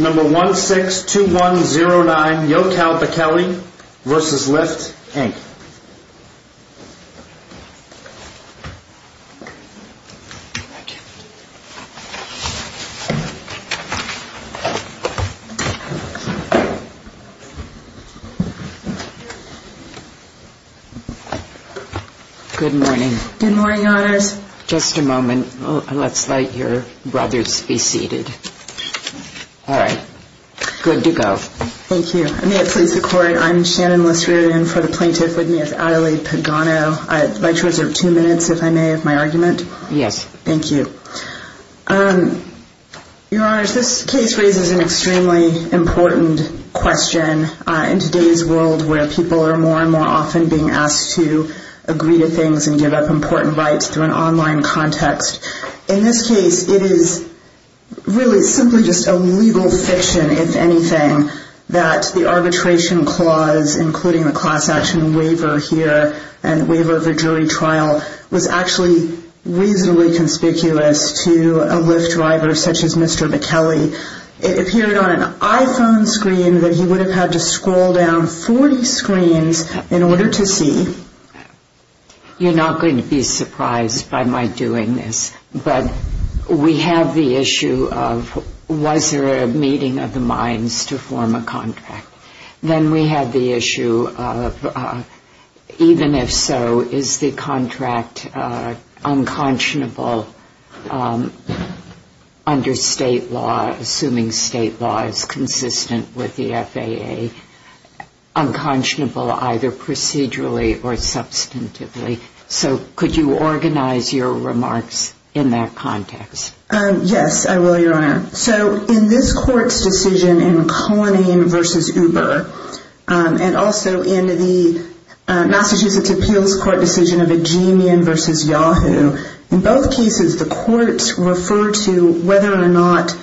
Number 162109, Yochal Bekele v. Lyft, Inc. Good morning. Just a moment. Let's let your brothers be seated. All right. Good to go. Thank you. May it please the Court, I'm Shannon Lisserian. For the plaintiff with me is Adelaide Pagano. I'd like to reserve two minutes, if I may, of my argument. Yes. Thank you. Your Honors, this case raises an extremely important question. In today's world, where people are more and more often being asked to agree to things and give up important rights through an online context, in this case it is really simply just a legal fiction, if anything, that the arbitration clause, including the class action waiver here and waiver of a jury trial, was actually reasonably conspicuous to a Lyft driver such as Mr. Bekele. It appeared on an iPhone screen that he would have had to scroll down 40 screens in order to see. You're not going to be surprised by my doing this, but we have the issue of was there a meeting of the minds to form a contract. Then we have the issue of even if so, is the contract unconscionable under state law, assuming state law is consistent with the FAA, unconscionable either procedurally or substantively. So could you organize your remarks in that context? Yes, I will, Your Honor. So in this Court's decision in Cullinan v. Uber, and also in the Massachusetts Appeals Court decision of Ajeemian v. Yahoo, in both cases the courts refer to whether or not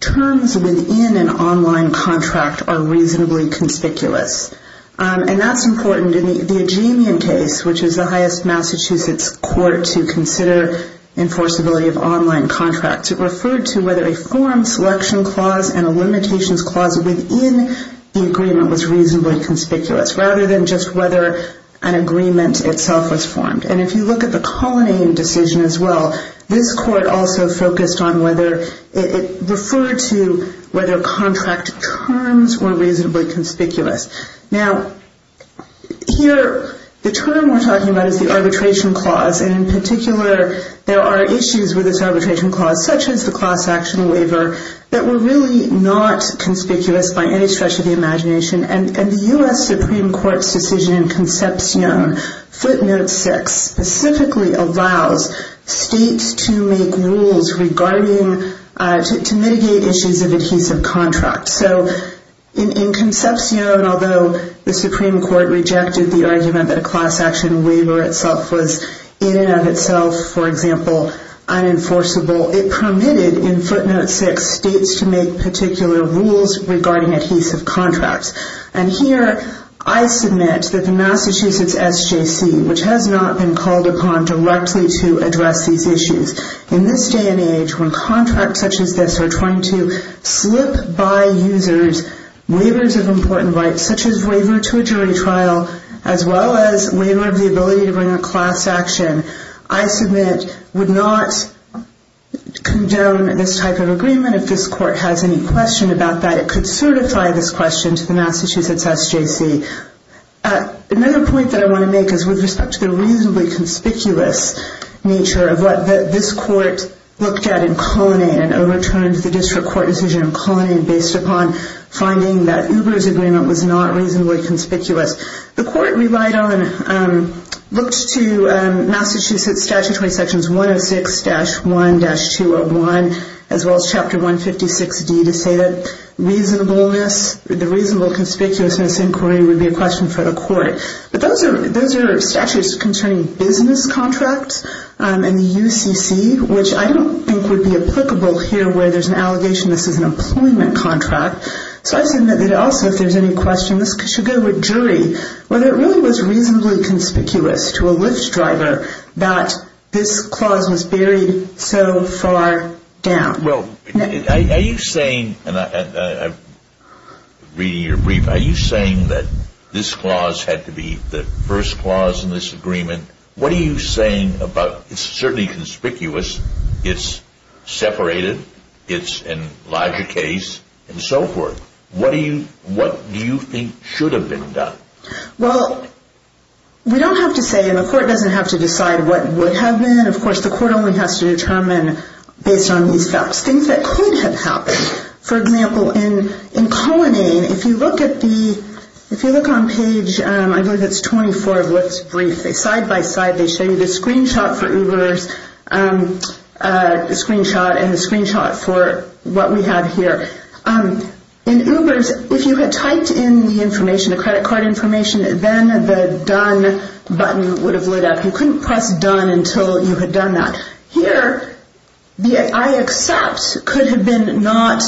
terms within an online contract are reasonably conspicuous. And that's important in the Ajeemian case, which is the highest Massachusetts court to consider enforceability of online contracts. It referred to whether a form selection clause and a limitations clause within the agreement was reasonably conspicuous, rather than just whether an agreement itself was formed. And if you look at the Cullinan decision as well, this court also focused on whether it referred to whether contract terms were reasonably conspicuous. Now, here the term we're talking about is the arbitration clause, and in particular there are issues with this arbitration clause, such as the class action waiver, that were really not conspicuous by any stretch of the imagination. And the U.S. Supreme Court's decision in Concepcion, footnote 6, specifically allows states to make rules regarding, to mitigate issues of adhesive contracts. So in Concepcion, although the Supreme Court rejected the argument that a class action waiver itself was, in and of itself, for example, unenforceable, it permitted in footnote 6 states to make particular rules regarding adhesive contracts. And here I submit that the Massachusetts SJC, which has not been called upon directly to address these issues, in this day and age when contracts such as this are trying to slip by users waivers of important rights, such as waiver to a jury trial, as well as waiver of the ability to bring a class action, I submit would not condone this type of agreement. If this court has any question about that, it could certify this question to the Massachusetts SJC. Another point that I want to make is with respect to the reasonably conspicuous nature of what this court looked at in Conning and overturned the district court decision in Conning based upon finding that Uber's agreement was not reasonably conspicuous. The court relied on, looked to Massachusetts statutory sections 106-1-201 as well as chapter 156D to say that reasonableness, the reasonable conspicuousness inquiry would be a question for the court. But those are statutes concerning business contracts and the UCC, which I don't think would be applicable here where there's an allegation this is an employment contract. So I submit that also if there's any question, this should go to a jury, whether it really was reasonably conspicuous to a Lyft driver that this clause was buried so far down. Well, are you saying, and I'm reading your brief, are you saying that this clause had to be the first clause in this agreement? What are you saying about it's certainly conspicuous, it's separated, it's an Elijah case, and so forth. What do you think should have been done? Well, we don't have to say, and the court doesn't have to decide what would have been. Of course, the court only has to determine based on these facts things that could have happened. For example, in Conning, if you look on page 24 of Lyft's brief, they side-by-side, they show you the screenshot for Uber's screenshot and the screenshot for what we have here. In Uber's, if you had typed in the information, the credit card information, then the done button would have lit up. You couldn't press done until you had done that. Here, the I accept could have been not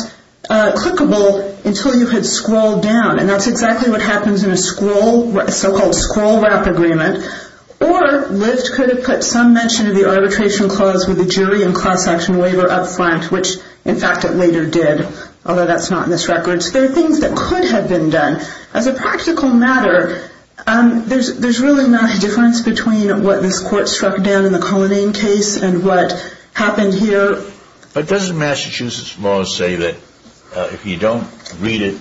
clickable until you had scrolled down, and that's exactly what happens in a so-called scroll-wrap agreement. Or Lyft could have put some mention of the arbitration clause with the jury and cross-section waiver up front, which in fact it later did, although that's not in this record. So there are things that could have been done. As a practical matter, there's really not a difference between what this court struck down in the Cullinane case and what happened here. But doesn't Massachusetts law say that if you don't read it,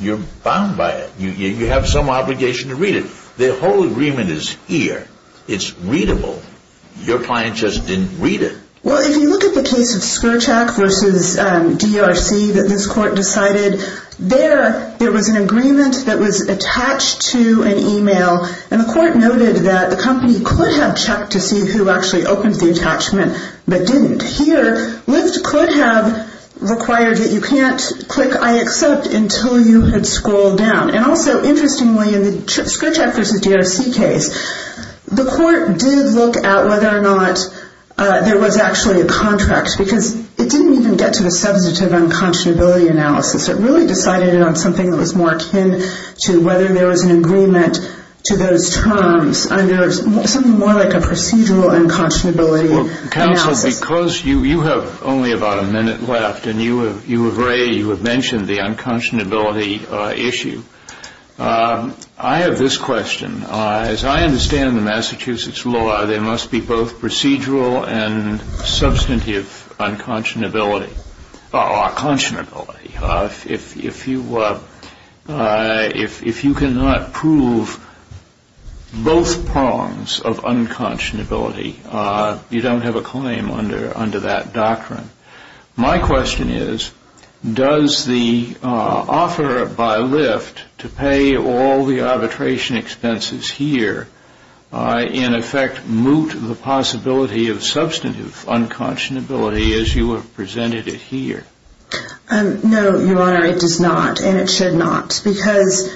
you're bound by it? You have some obligation to read it. The whole agreement is here. It's readable. Your client just didn't read it. Well, if you look at the case of Skrčak v. DRC that this court decided, there, there was an agreement that was attached to an email, and the court noted that the company could have checked to see who actually opened the attachment but didn't. Here, Lyft could have required that you can't click I accept until you had scrolled down. And also, interestingly, in the Skrčak v. DRC case, the court did look at whether or not there was actually a contract because it didn't even get to the substantive unconscionability analysis. It really decided it on something that was more akin to whether there was an agreement to those terms under something more like a procedural unconscionability analysis. Well, Counsel, because you have only about a minute left, and you have already mentioned the unconscionability issue, I have this question. As I understand the Massachusetts law, there must be both procedural and substantive unconscionability. Conscionability. If you cannot prove both prongs of unconscionability, you don't have a claim under that doctrine. My question is, does the offer by Lyft to pay all the arbitration expenses here, in effect, moot the possibility of substantive unconscionability as you have presented it here? No, Your Honor, it does not, and it should not, because...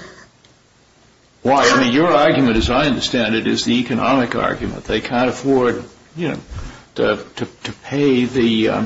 Why? I mean, your argument, as I understand it, is the economic argument. They can't afford, you know, to pay the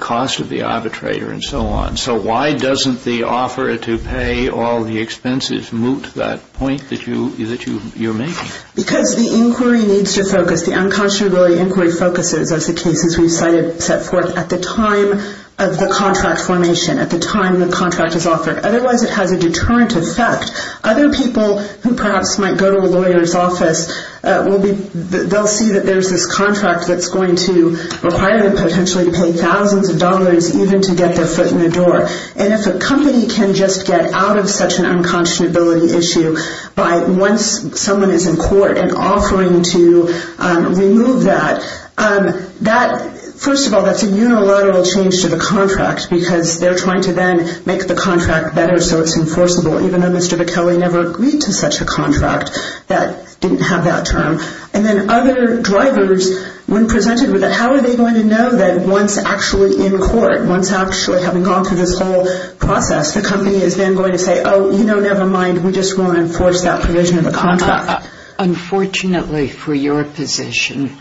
cost of the arbitrator and so on. So why doesn't the offer to pay all the expenses moot that point that you're making? Because the inquiry needs to focus. The unconscionability inquiry focuses as the cases we've cited set forth at the time of the contract formation, at the time the contract is offered. Otherwise, it has a deterrent effect. Other people who perhaps might go to a lawyer's office, they'll see that there's this contract that's going to require them potentially to pay thousands of dollars even to get their foot in the door. And if a company can just get out of such an unconscionability issue by once someone is in court and offering to remove that, that, first of all, that's a unilateral change to the contract because they're trying to then make the contract better so it's enforceable, even though Mr. Bickelli never agreed to such a contract that didn't have that term. And then other drivers, when presented with it, how are they going to know that once actually in court, once actually having gone through this whole process, the company is then going to say, oh, you know, never mind. We just want to enforce that provision of the contract. Unfortunately for your position,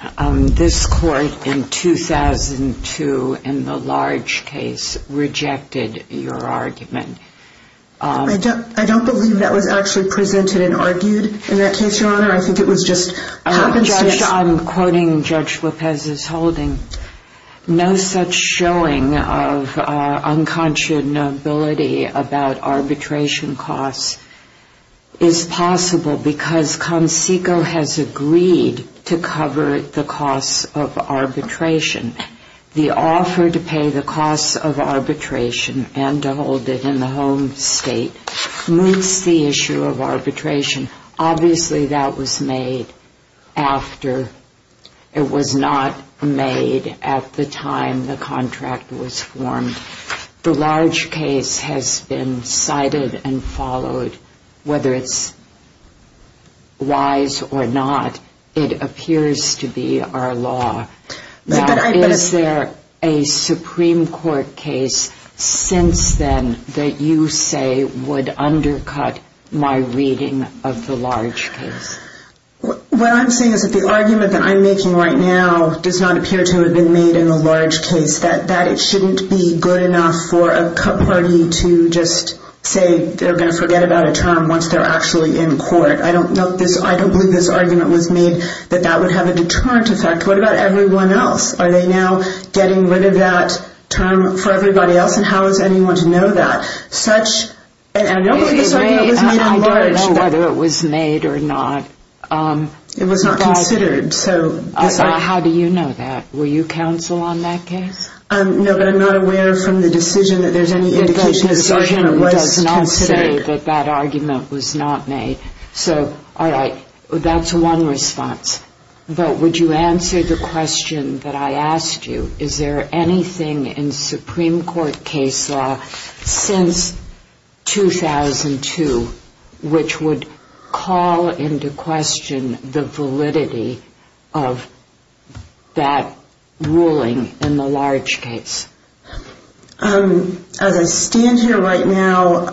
this court in 2002 in the large case rejected your argument. I don't believe that was actually presented and argued in that case, Your Honor. I think it was just happenstance. I'm quoting Judge Lopez's holding. No such showing of unconscionability about arbitration costs is possible because CONSECO has agreed to cover the costs of arbitration. The offer to pay the costs of arbitration and to hold it in the home state meets the issue of arbitration. Obviously that was made after it was not made at the time the contract was formed. The large case has been cited and followed. Whether it's wise or not, it appears to be our law. Is there a Supreme Court case since then that you say would undercut my reading of the large case? What I'm saying is that the argument that I'm making right now does not appear to have been made in the large case, that it shouldn't be good enough for a cut party to just say they're going to forget about a term once they're actually in court. I don't believe this argument was made that that would have a deterrent effect. What about everyone else? Are they now getting rid of that term for everybody else and how is anyone to know that? I don't believe this argument was made in the large case. I don't know whether it was made or not. It was not considered. How do you know that? Were you counsel on that case? No, but I'm not aware from the decision that there's any indication that this argument was considered. The decision does not say that that argument was not made. All right. That's one response. But would you answer the question that I asked you? Is there anything in Supreme Court case law since 2002 which would call into question the validity of that ruling in the large case? As I stand here right now,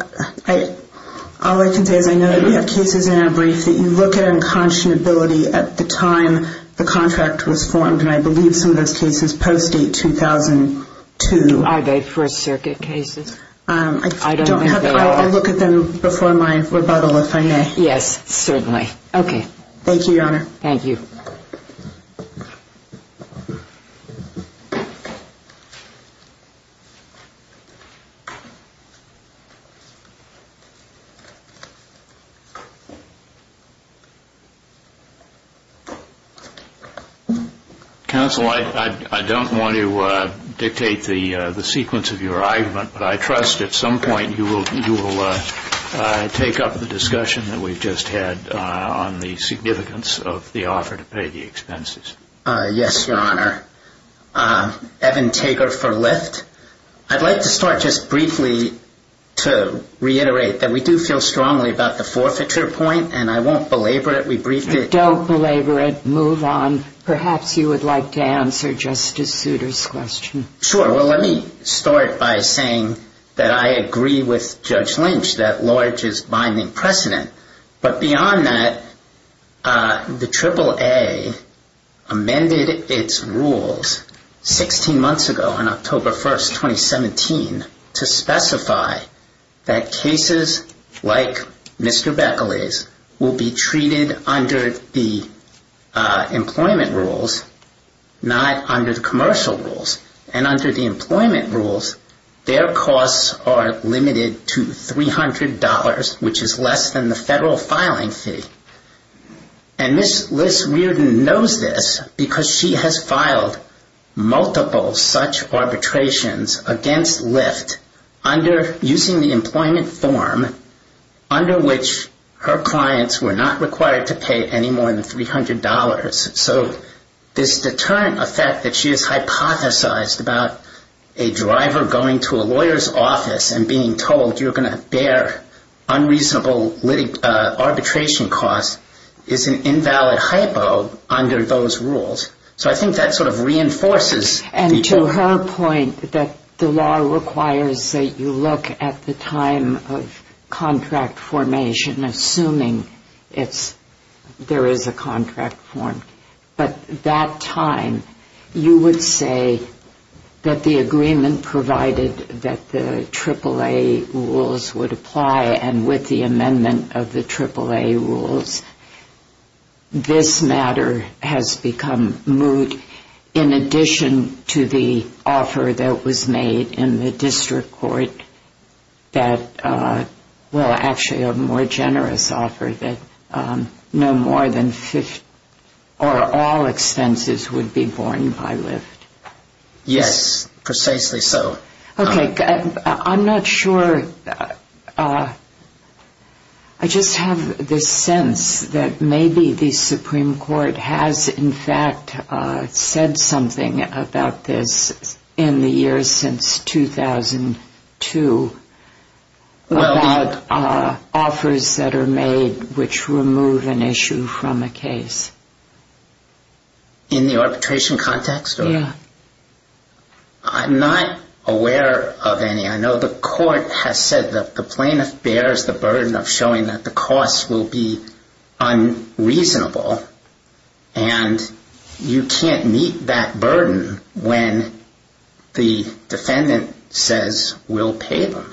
all I can say is I know that we have cases in our brief that you look at unconscionability at the time the contract was formed, and I believe some of those cases post-date 2002. Are they First Circuit cases? I don't know if they are. I look at them before my rebuttal, if I may. Yes, certainly. Okay. Thank you, Your Honor. Thank you. Counsel, I don't want to dictate the sequence of your argument, but I trust at some point you will take up the discussion that we've just had on the significance of the offer to pay the expenses. Yes, Your Honor. I'd like to start just briefly to reiterate that we do feel strongly about the forfeiture point, and I won't belabor it. We briefed it. Don't belabor it. Move on. Perhaps you would like to answer Justice Souter's question. Sure. Well, let me start by saying that I agree with Judge Lynch that large is binding precedent. But beyond that, the AAA amended its rules 16 months ago, on October 1, 2017, to specify that cases like Mr. Bekele's will be treated under the employment rules, not under the commercial rules. And under the employment rules, their costs are limited to $300, which is less than the federal filing fee. And Ms. List-Riordan knows this because she has filed multiple such arbitrations against Lyft, using the employment form under which her clients were not required to pay any more than $300. So this deterrent effect that she has hypothesized about a driver going to a lawyer's office and being told you're going to bear unreasonable arbitration costs is an invalid hypo under those rules. So I think that sort of reinforces the point. The law requires that you look at the time of contract formation, assuming there is a contract form. But that time, you would say that the agreement provided that the AAA rules would apply, and with the amendment of the AAA rules, this matter has become moot, in addition to the offer that was made in the district court that, well, actually a more generous offer, that no more than 50 or all expenses would be borne by Lyft. Yes, precisely so. Okay. I'm not sure. I just have this sense that maybe the Supreme Court has, in fact, said something about this in the years since 2002 about offers that are made which remove an issue from a case. In the arbitration context? Yes. I'm not aware of any. I know the court has said that the plaintiff bears the burden of showing that the costs will be unreasonable, and you can't meet that burden when the defendant says we'll pay them,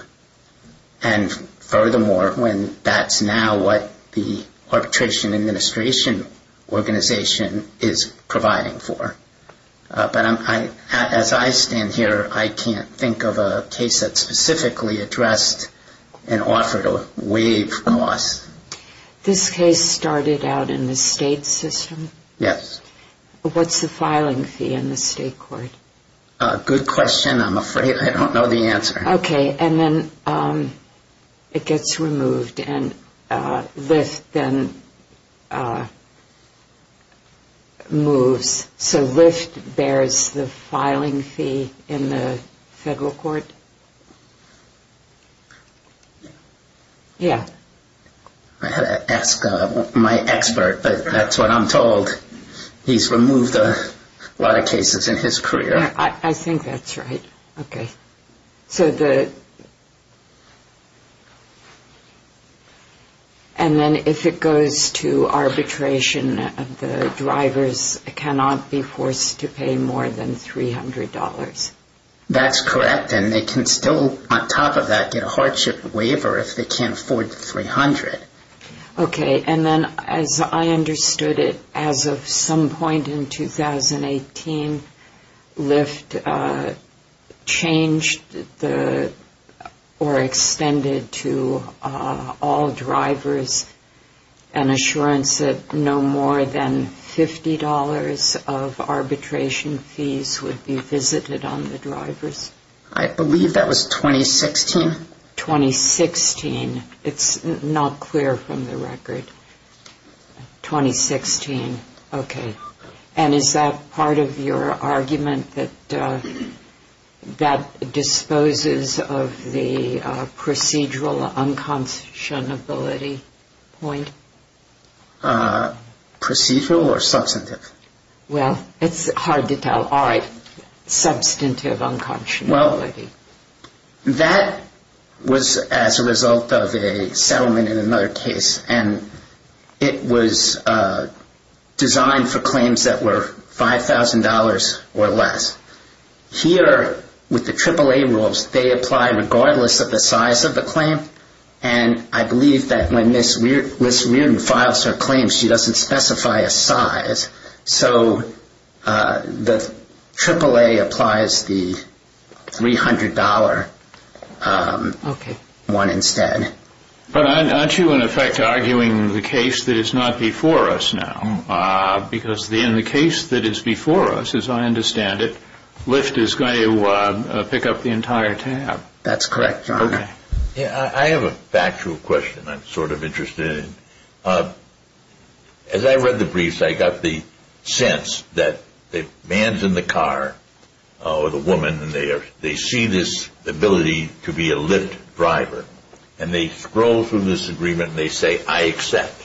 and furthermore, when that's now what the arbitration administration organization is providing for. But as I stand here, I can't think of a case that specifically addressed an offer to waive costs. This case started out in the state system? Yes. What's the filing fee in the state court? Good question. I'm afraid I don't know the answer. Okay. And then it gets removed, and Lyft then moves. So Lyft bears the filing fee in the federal court? Yes. I had to ask my expert, but that's what I'm told. He's removed a lot of cases in his career. I think that's right. Okay. And then if it goes to arbitration, the drivers cannot be forced to pay more than $300? That's correct, and they can still, on top of that, get a hardship waiver if they can't afford the $300. Okay, and then as I understood it, as of some point in 2018, Lyft changed or extended to all drivers an assurance that no more than $50 of arbitration fees would be visited on the drivers? I believe that was 2016. 2016. It's not clear from the record. 2016. Okay. And is that part of your argument that that disposes of the procedural unconscionability point? Procedural or substantive? Well, it's hard to tell. All right. Substantive unconscionability. Well, that was as a result of a settlement in another case, and it was designed for claims that were $5,000 or less. Here, with the AAA rules, they apply regardless of the size of the claim, and I believe that when Ms. Reardon files her claims, she doesn't specify a size. So the AAA applies the $300 one instead. But aren't you, in effect, arguing the case that is not before us now? Because in the case that is before us, as I understand it, Lyft is going to pick up the entire tab. That's correct, John. I have a factual question I'm sort of interested in. As I read the briefs, I got the sense that the man's in the car with a woman, and they see this ability to be a Lyft driver. And they scroll through this agreement, and they say, I accept.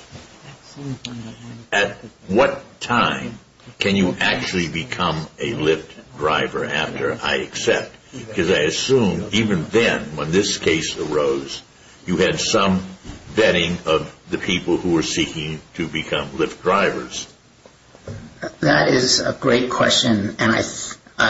At what time can you actually become a Lyft driver after I accept? Because I assume even then, when this case arose, you had some vetting of the people who were seeking to become Lyft drivers. That is a great question, and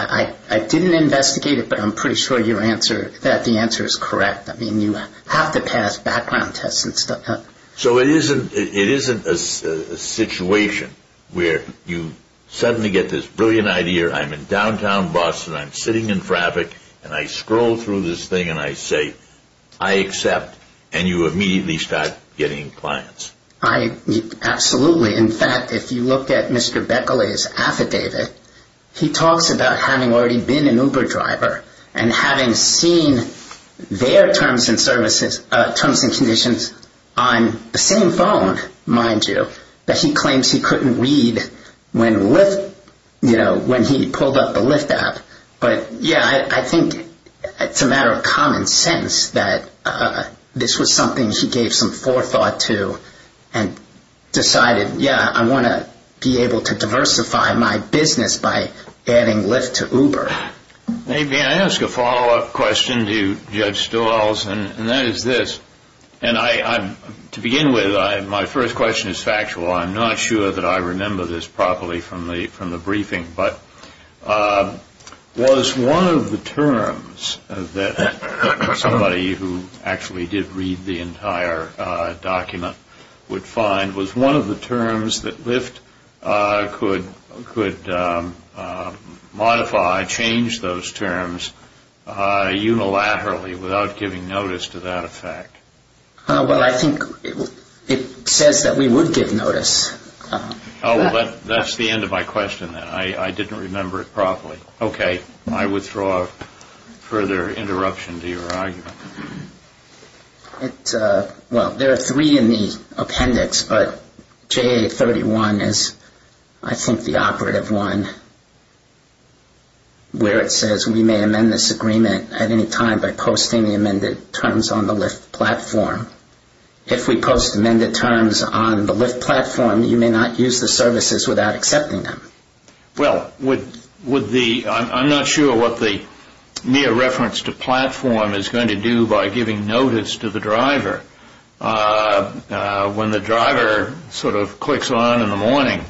I didn't investigate it, but I'm pretty sure that the answer is correct. I mean, you have to pass background tests and stuff. So it isn't a situation where you suddenly get this brilliant idea, I'm in downtown Boston, I'm sitting in traffic, and I scroll through this thing, and I say, I accept. And you immediately start getting clients. Absolutely. In fact, if you look at Mr. Beckley's affidavit, he talks about having already been an Uber driver and having seen their terms and conditions on the same phone, mind you, that he claims he couldn't read when he pulled up the Lyft app. But, yeah, I think it's a matter of common sense that this was something he gave some forethought to and decided, yeah, I want to be able to diversify my business by adding Lyft to Uber. Maybe I ask a follow-up question to Judge Stowell's, and that is this, and to begin with, my first question is factual. I'm not sure that I remember this properly from the briefing, but was one of the terms that somebody who actually did read the entire document would find, was one of the terms that Lyft could modify, change those terms unilaterally without giving notice to that effect? Well, I think it says that we would give notice. Oh, well, that's the end of my question, then. I didn't remember it properly. Okay. I withdraw further interruption to your argument. Well, there are three in the appendix, but JA31 is, I think, the operative one where it says we may amend this agreement at any time by posting the amended terms on the Lyft platform. If we post amended terms on the Lyft platform, you may not use the services without accepting them. Well, I'm not sure what the mere reference to platform is going to do by giving notice to the driver. When the driver sort of clicks on in the morning,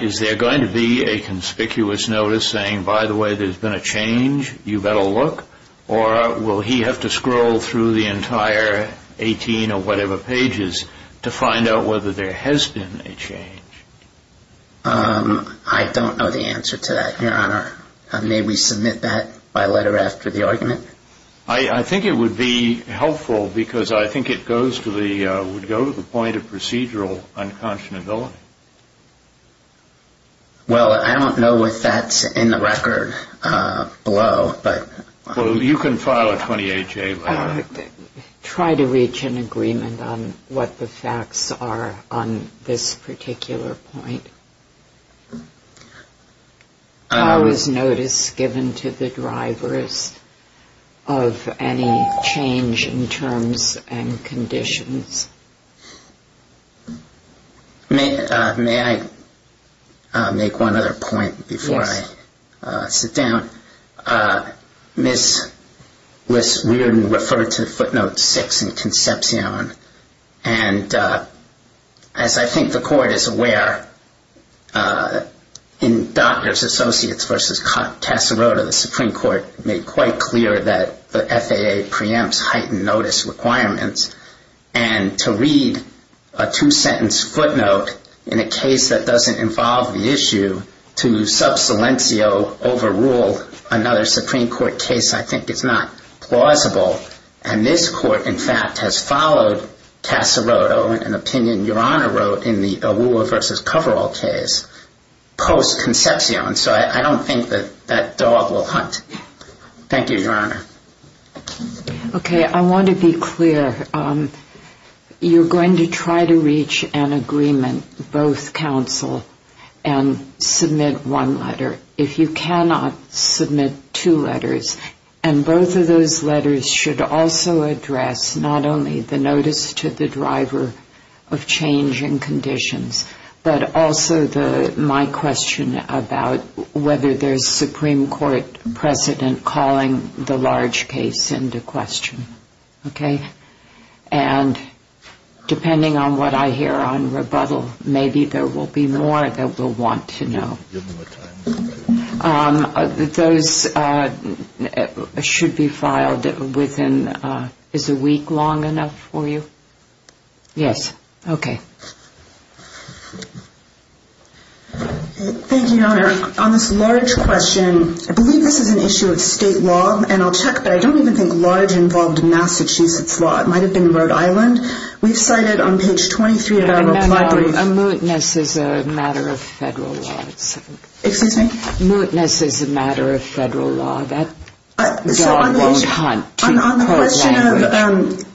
is there going to be a conspicuous notice saying, by the way, there's been a change, you better look, or will he have to scroll through the entire 18 or whatever pages to find out whether there has been a change? I don't know the answer to that, Your Honor. May we submit that by letter after the argument? I think it would be helpful because I think it would go to the point of procedural unconscionability. Well, I don't know if that's in the record below. Well, you can file a 28-J letter. Try to reach an agreement on what the facts are on this particular point. How is notice given to the drivers of any change in terms and conditions? May I make one other point before I sit down? Ms. Weirden referred to footnote 6 in Concepcion, and as I think the Court is aware, in Doctors Associates v. Casarota, the Supreme Court made quite clear that the FAA preempts heightened notice requirements, and to read a two-sentence footnote in a case that doesn't involve the issue to sub silencio overrule another Supreme Court case I think is not plausible, and this Court, in fact, has followed Casarota in an opinion Your Honor wrote in the Awuah v. Coverall case post-Concepcion, so I don't think that dog will hunt. Thank you, Your Honor. Okay, I want to be clear. You're going to try to reach an agreement, both counsel and submit one letter. If you cannot submit two letters, and both of those letters should also address not only the notice to the driver of change in conditions, but also my question about whether there's Supreme Court precedent calling the large case into question, okay? And depending on what I hear on rebuttal, maybe there will be more that we'll want to know. Give me more time. Those should be filed within, is a week long enough for you? Yes. Okay. Thank you, Your Honor. On this large question, I believe this is an issue of state law, and I'll check, but I don't even think large involved Massachusetts law. It might have been Rhode Island. We've cited on page 23 of our reply brief. No, no, a mootness is a matter of federal law. Excuse me? Mootness is a matter of federal law. That dog won't hunt.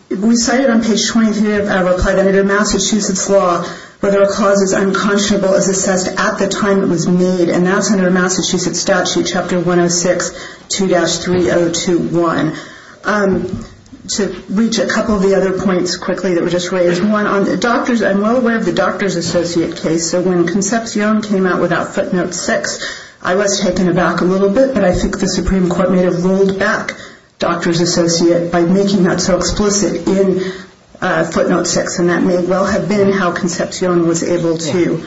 We cited on page 23 of our reply that under Massachusetts law, whether a cause is unconscionable is assessed at the time it was made, and that's under Massachusetts Statute Chapter 106, 2-3021. To reach a couple of the other points quickly that were just raised, one, I'm well aware of the doctor's associate case, so when Concepcion came out without footnote six, I was taken aback a little bit, but I think the Supreme Court may have rolled back doctor's associate by making that so explicit in footnote six, and that may well have been how Concepcion was able to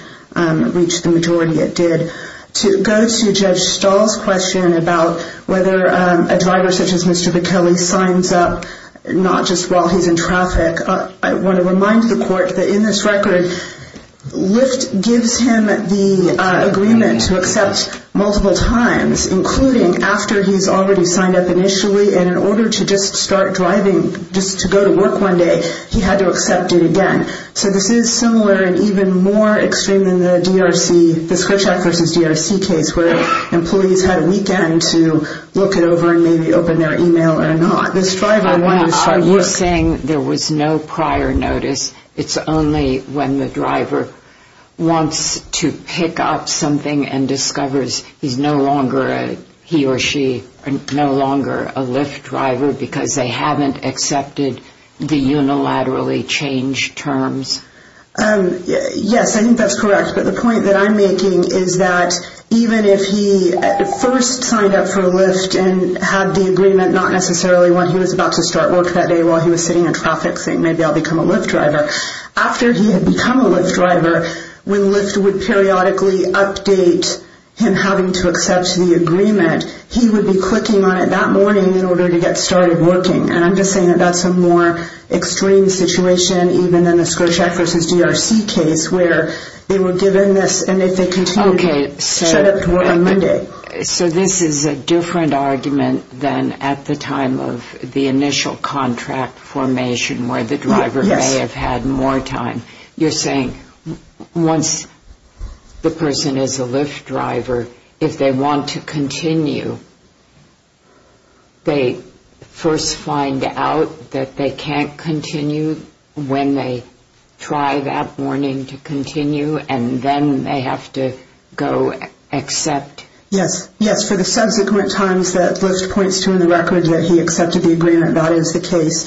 reach the majority it did. To go to Judge Stahl's question about whether a driver such as Mr. Bichelli signs up not just while he's in traffic, I want to remind the court that in this record, Lyft gives him the agreement to accept multiple times, including after he's already signed up initially, and in order to just start driving, just to go to work one day, he had to accept it again. So this is similar and even more extreme than the DRC, the Skritchak v. DRC case, where employees had a weekend to look it over and maybe open their e-mail or not. Are you saying there was no prior notice? It's only when the driver wants to pick up something and discovers he or she is no longer a Lyft driver because they haven't accepted the unilaterally changed terms? Yes, I think that's correct, but the point that I'm making is that even if he first signed up for Lyft and had the agreement not necessarily when he was about to start work that day while he was sitting in traffic, saying maybe I'll become a Lyft driver, after he had become a Lyft driver, when Lyft would periodically update him having to accept the agreement, he would be clicking on it that morning in order to get started working. And I'm just saying that that's a more extreme situation even than the Skritchak v. DRC case, where they were given this and if they continue, shut up on Monday. So this is a different argument than at the time of the initial contract formation where the driver may have had more time. You're saying once the person is a Lyft driver, if they want to continue, they first find out that they can't continue when they try that morning to continue and then they have to go accept? Yes, for the subsequent times that Lyft points to in the record that he accepted the agreement, that is the case.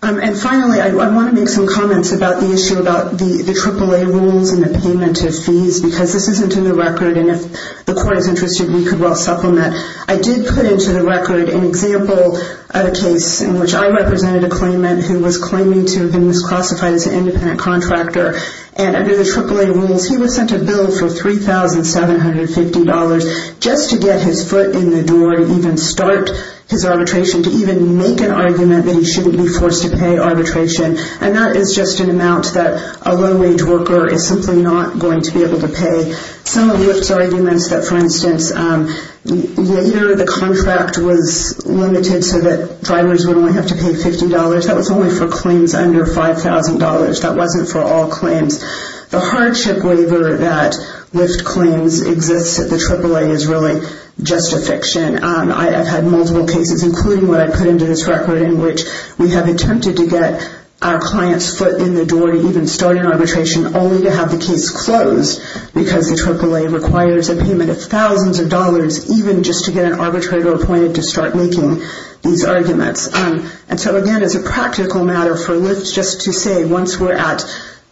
And finally, I want to make some comments about the issue about the AAA rules and the payment of fees because this isn't in the record and if the court is interested, we could well supplement. I did put into the record an example of a case in which I represented a claimant who was claiming to have been misclassified as an independent contractor and under the AAA rules, he was sent a bill for $3,750 just to get his foot in the door and even start his arbitration to even make an argument that he shouldn't be forced to pay arbitration and that is just an amount that a low-wage worker is simply not going to be able to pay. Some of Lyft's arguments that, for instance, later the contract was limited so that drivers would only have to pay $50, that was only for claims under $5,000, that wasn't for all claims. The hardship waiver that Lyft claims exists at the AAA is really just a fiction. I have had multiple cases, including what I put into this record, in which we have attempted to get our client's foot in the door to even start an arbitration only to have the case closed because the AAA requires a payment of thousands of dollars even just to get an arbitrator appointed to start making these arguments. And so again, it's a practical matter for Lyft just to say once we're at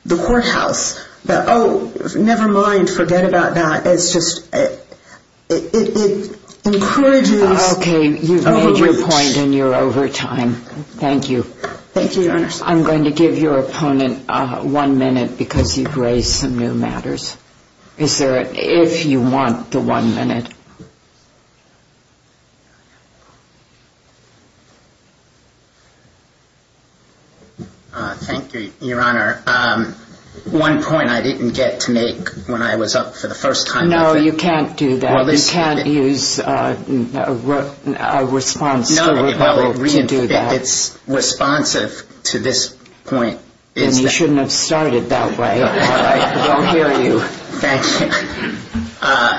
the courthouse, oh, never mind, forget about that, it's just, it encourages overreach. Okay, you've made your point and you're over time. Thank you. Thank you, Your Honor. I'm going to give your opponent one minute because you've raised some new matters. Is there a, if you want the one minute. Thank you, Your Honor. One point I didn't get to make when I was up for the first time. No, you can't do that. You can't use a response to do that. It's responsive to this point. Then you shouldn't have started that way. I won't hear you. Thank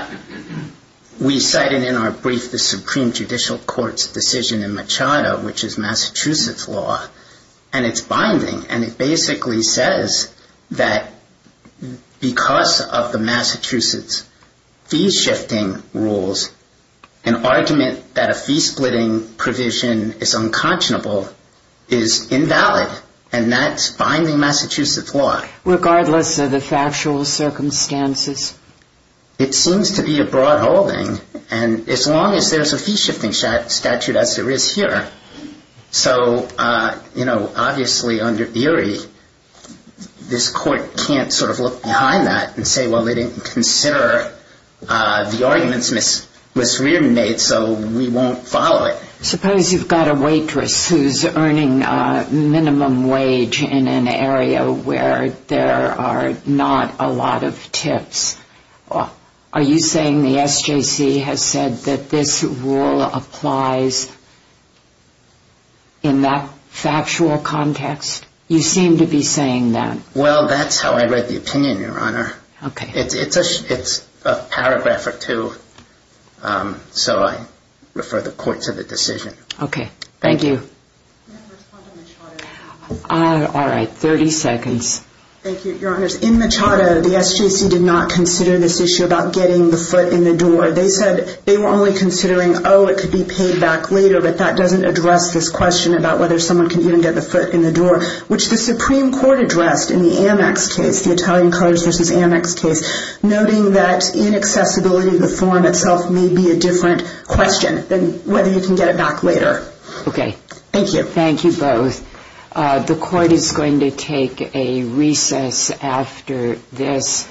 you. We cited in our brief the Supreme Judicial Court's decision in Machado, which is Massachusetts law, and it's binding, and it basically says that because of the Massachusetts fee-shifting rules, an argument that a fee-splitting provision is unconscionable is invalid, and that's binding Massachusetts law. Regardless of the factual circumstances? It seems to be a broad holding, and as long as there's a fee-shifting statute as there is here. So, you know, obviously under theory, this court can't sort of look behind that and say, well, they didn't consider the arguments misremade, so we won't follow it. Suppose you've got a waitress who's earning minimum wage in an area where there are not a lot of tips. Are you saying the SJC has said that this rule applies in that factual context? You seem to be saying that. Well, that's how I read the opinion, Your Honor. Okay. It's a paragraph or two, so I refer the court to the decision. Okay. Thank you. All right, 30 seconds. Thank you, Your Honors. In Machado, the SJC did not consider this issue about getting the foot in the door. They said they were only considering, oh, it could be paid back later, but that doesn't address this question about whether someone can even get the foot in the door, which the Supreme Court addressed in the Amex case, the Italian Courage v. Amex case, noting that inaccessibility of the form itself may be a different question than whether you can get it back later. Okay. Thank you. Thank you both. The court is going to take a recess after this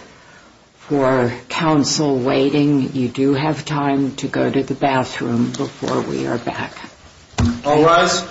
for counsel waiting. You do have time to go to the bathroom before we are back. All rise.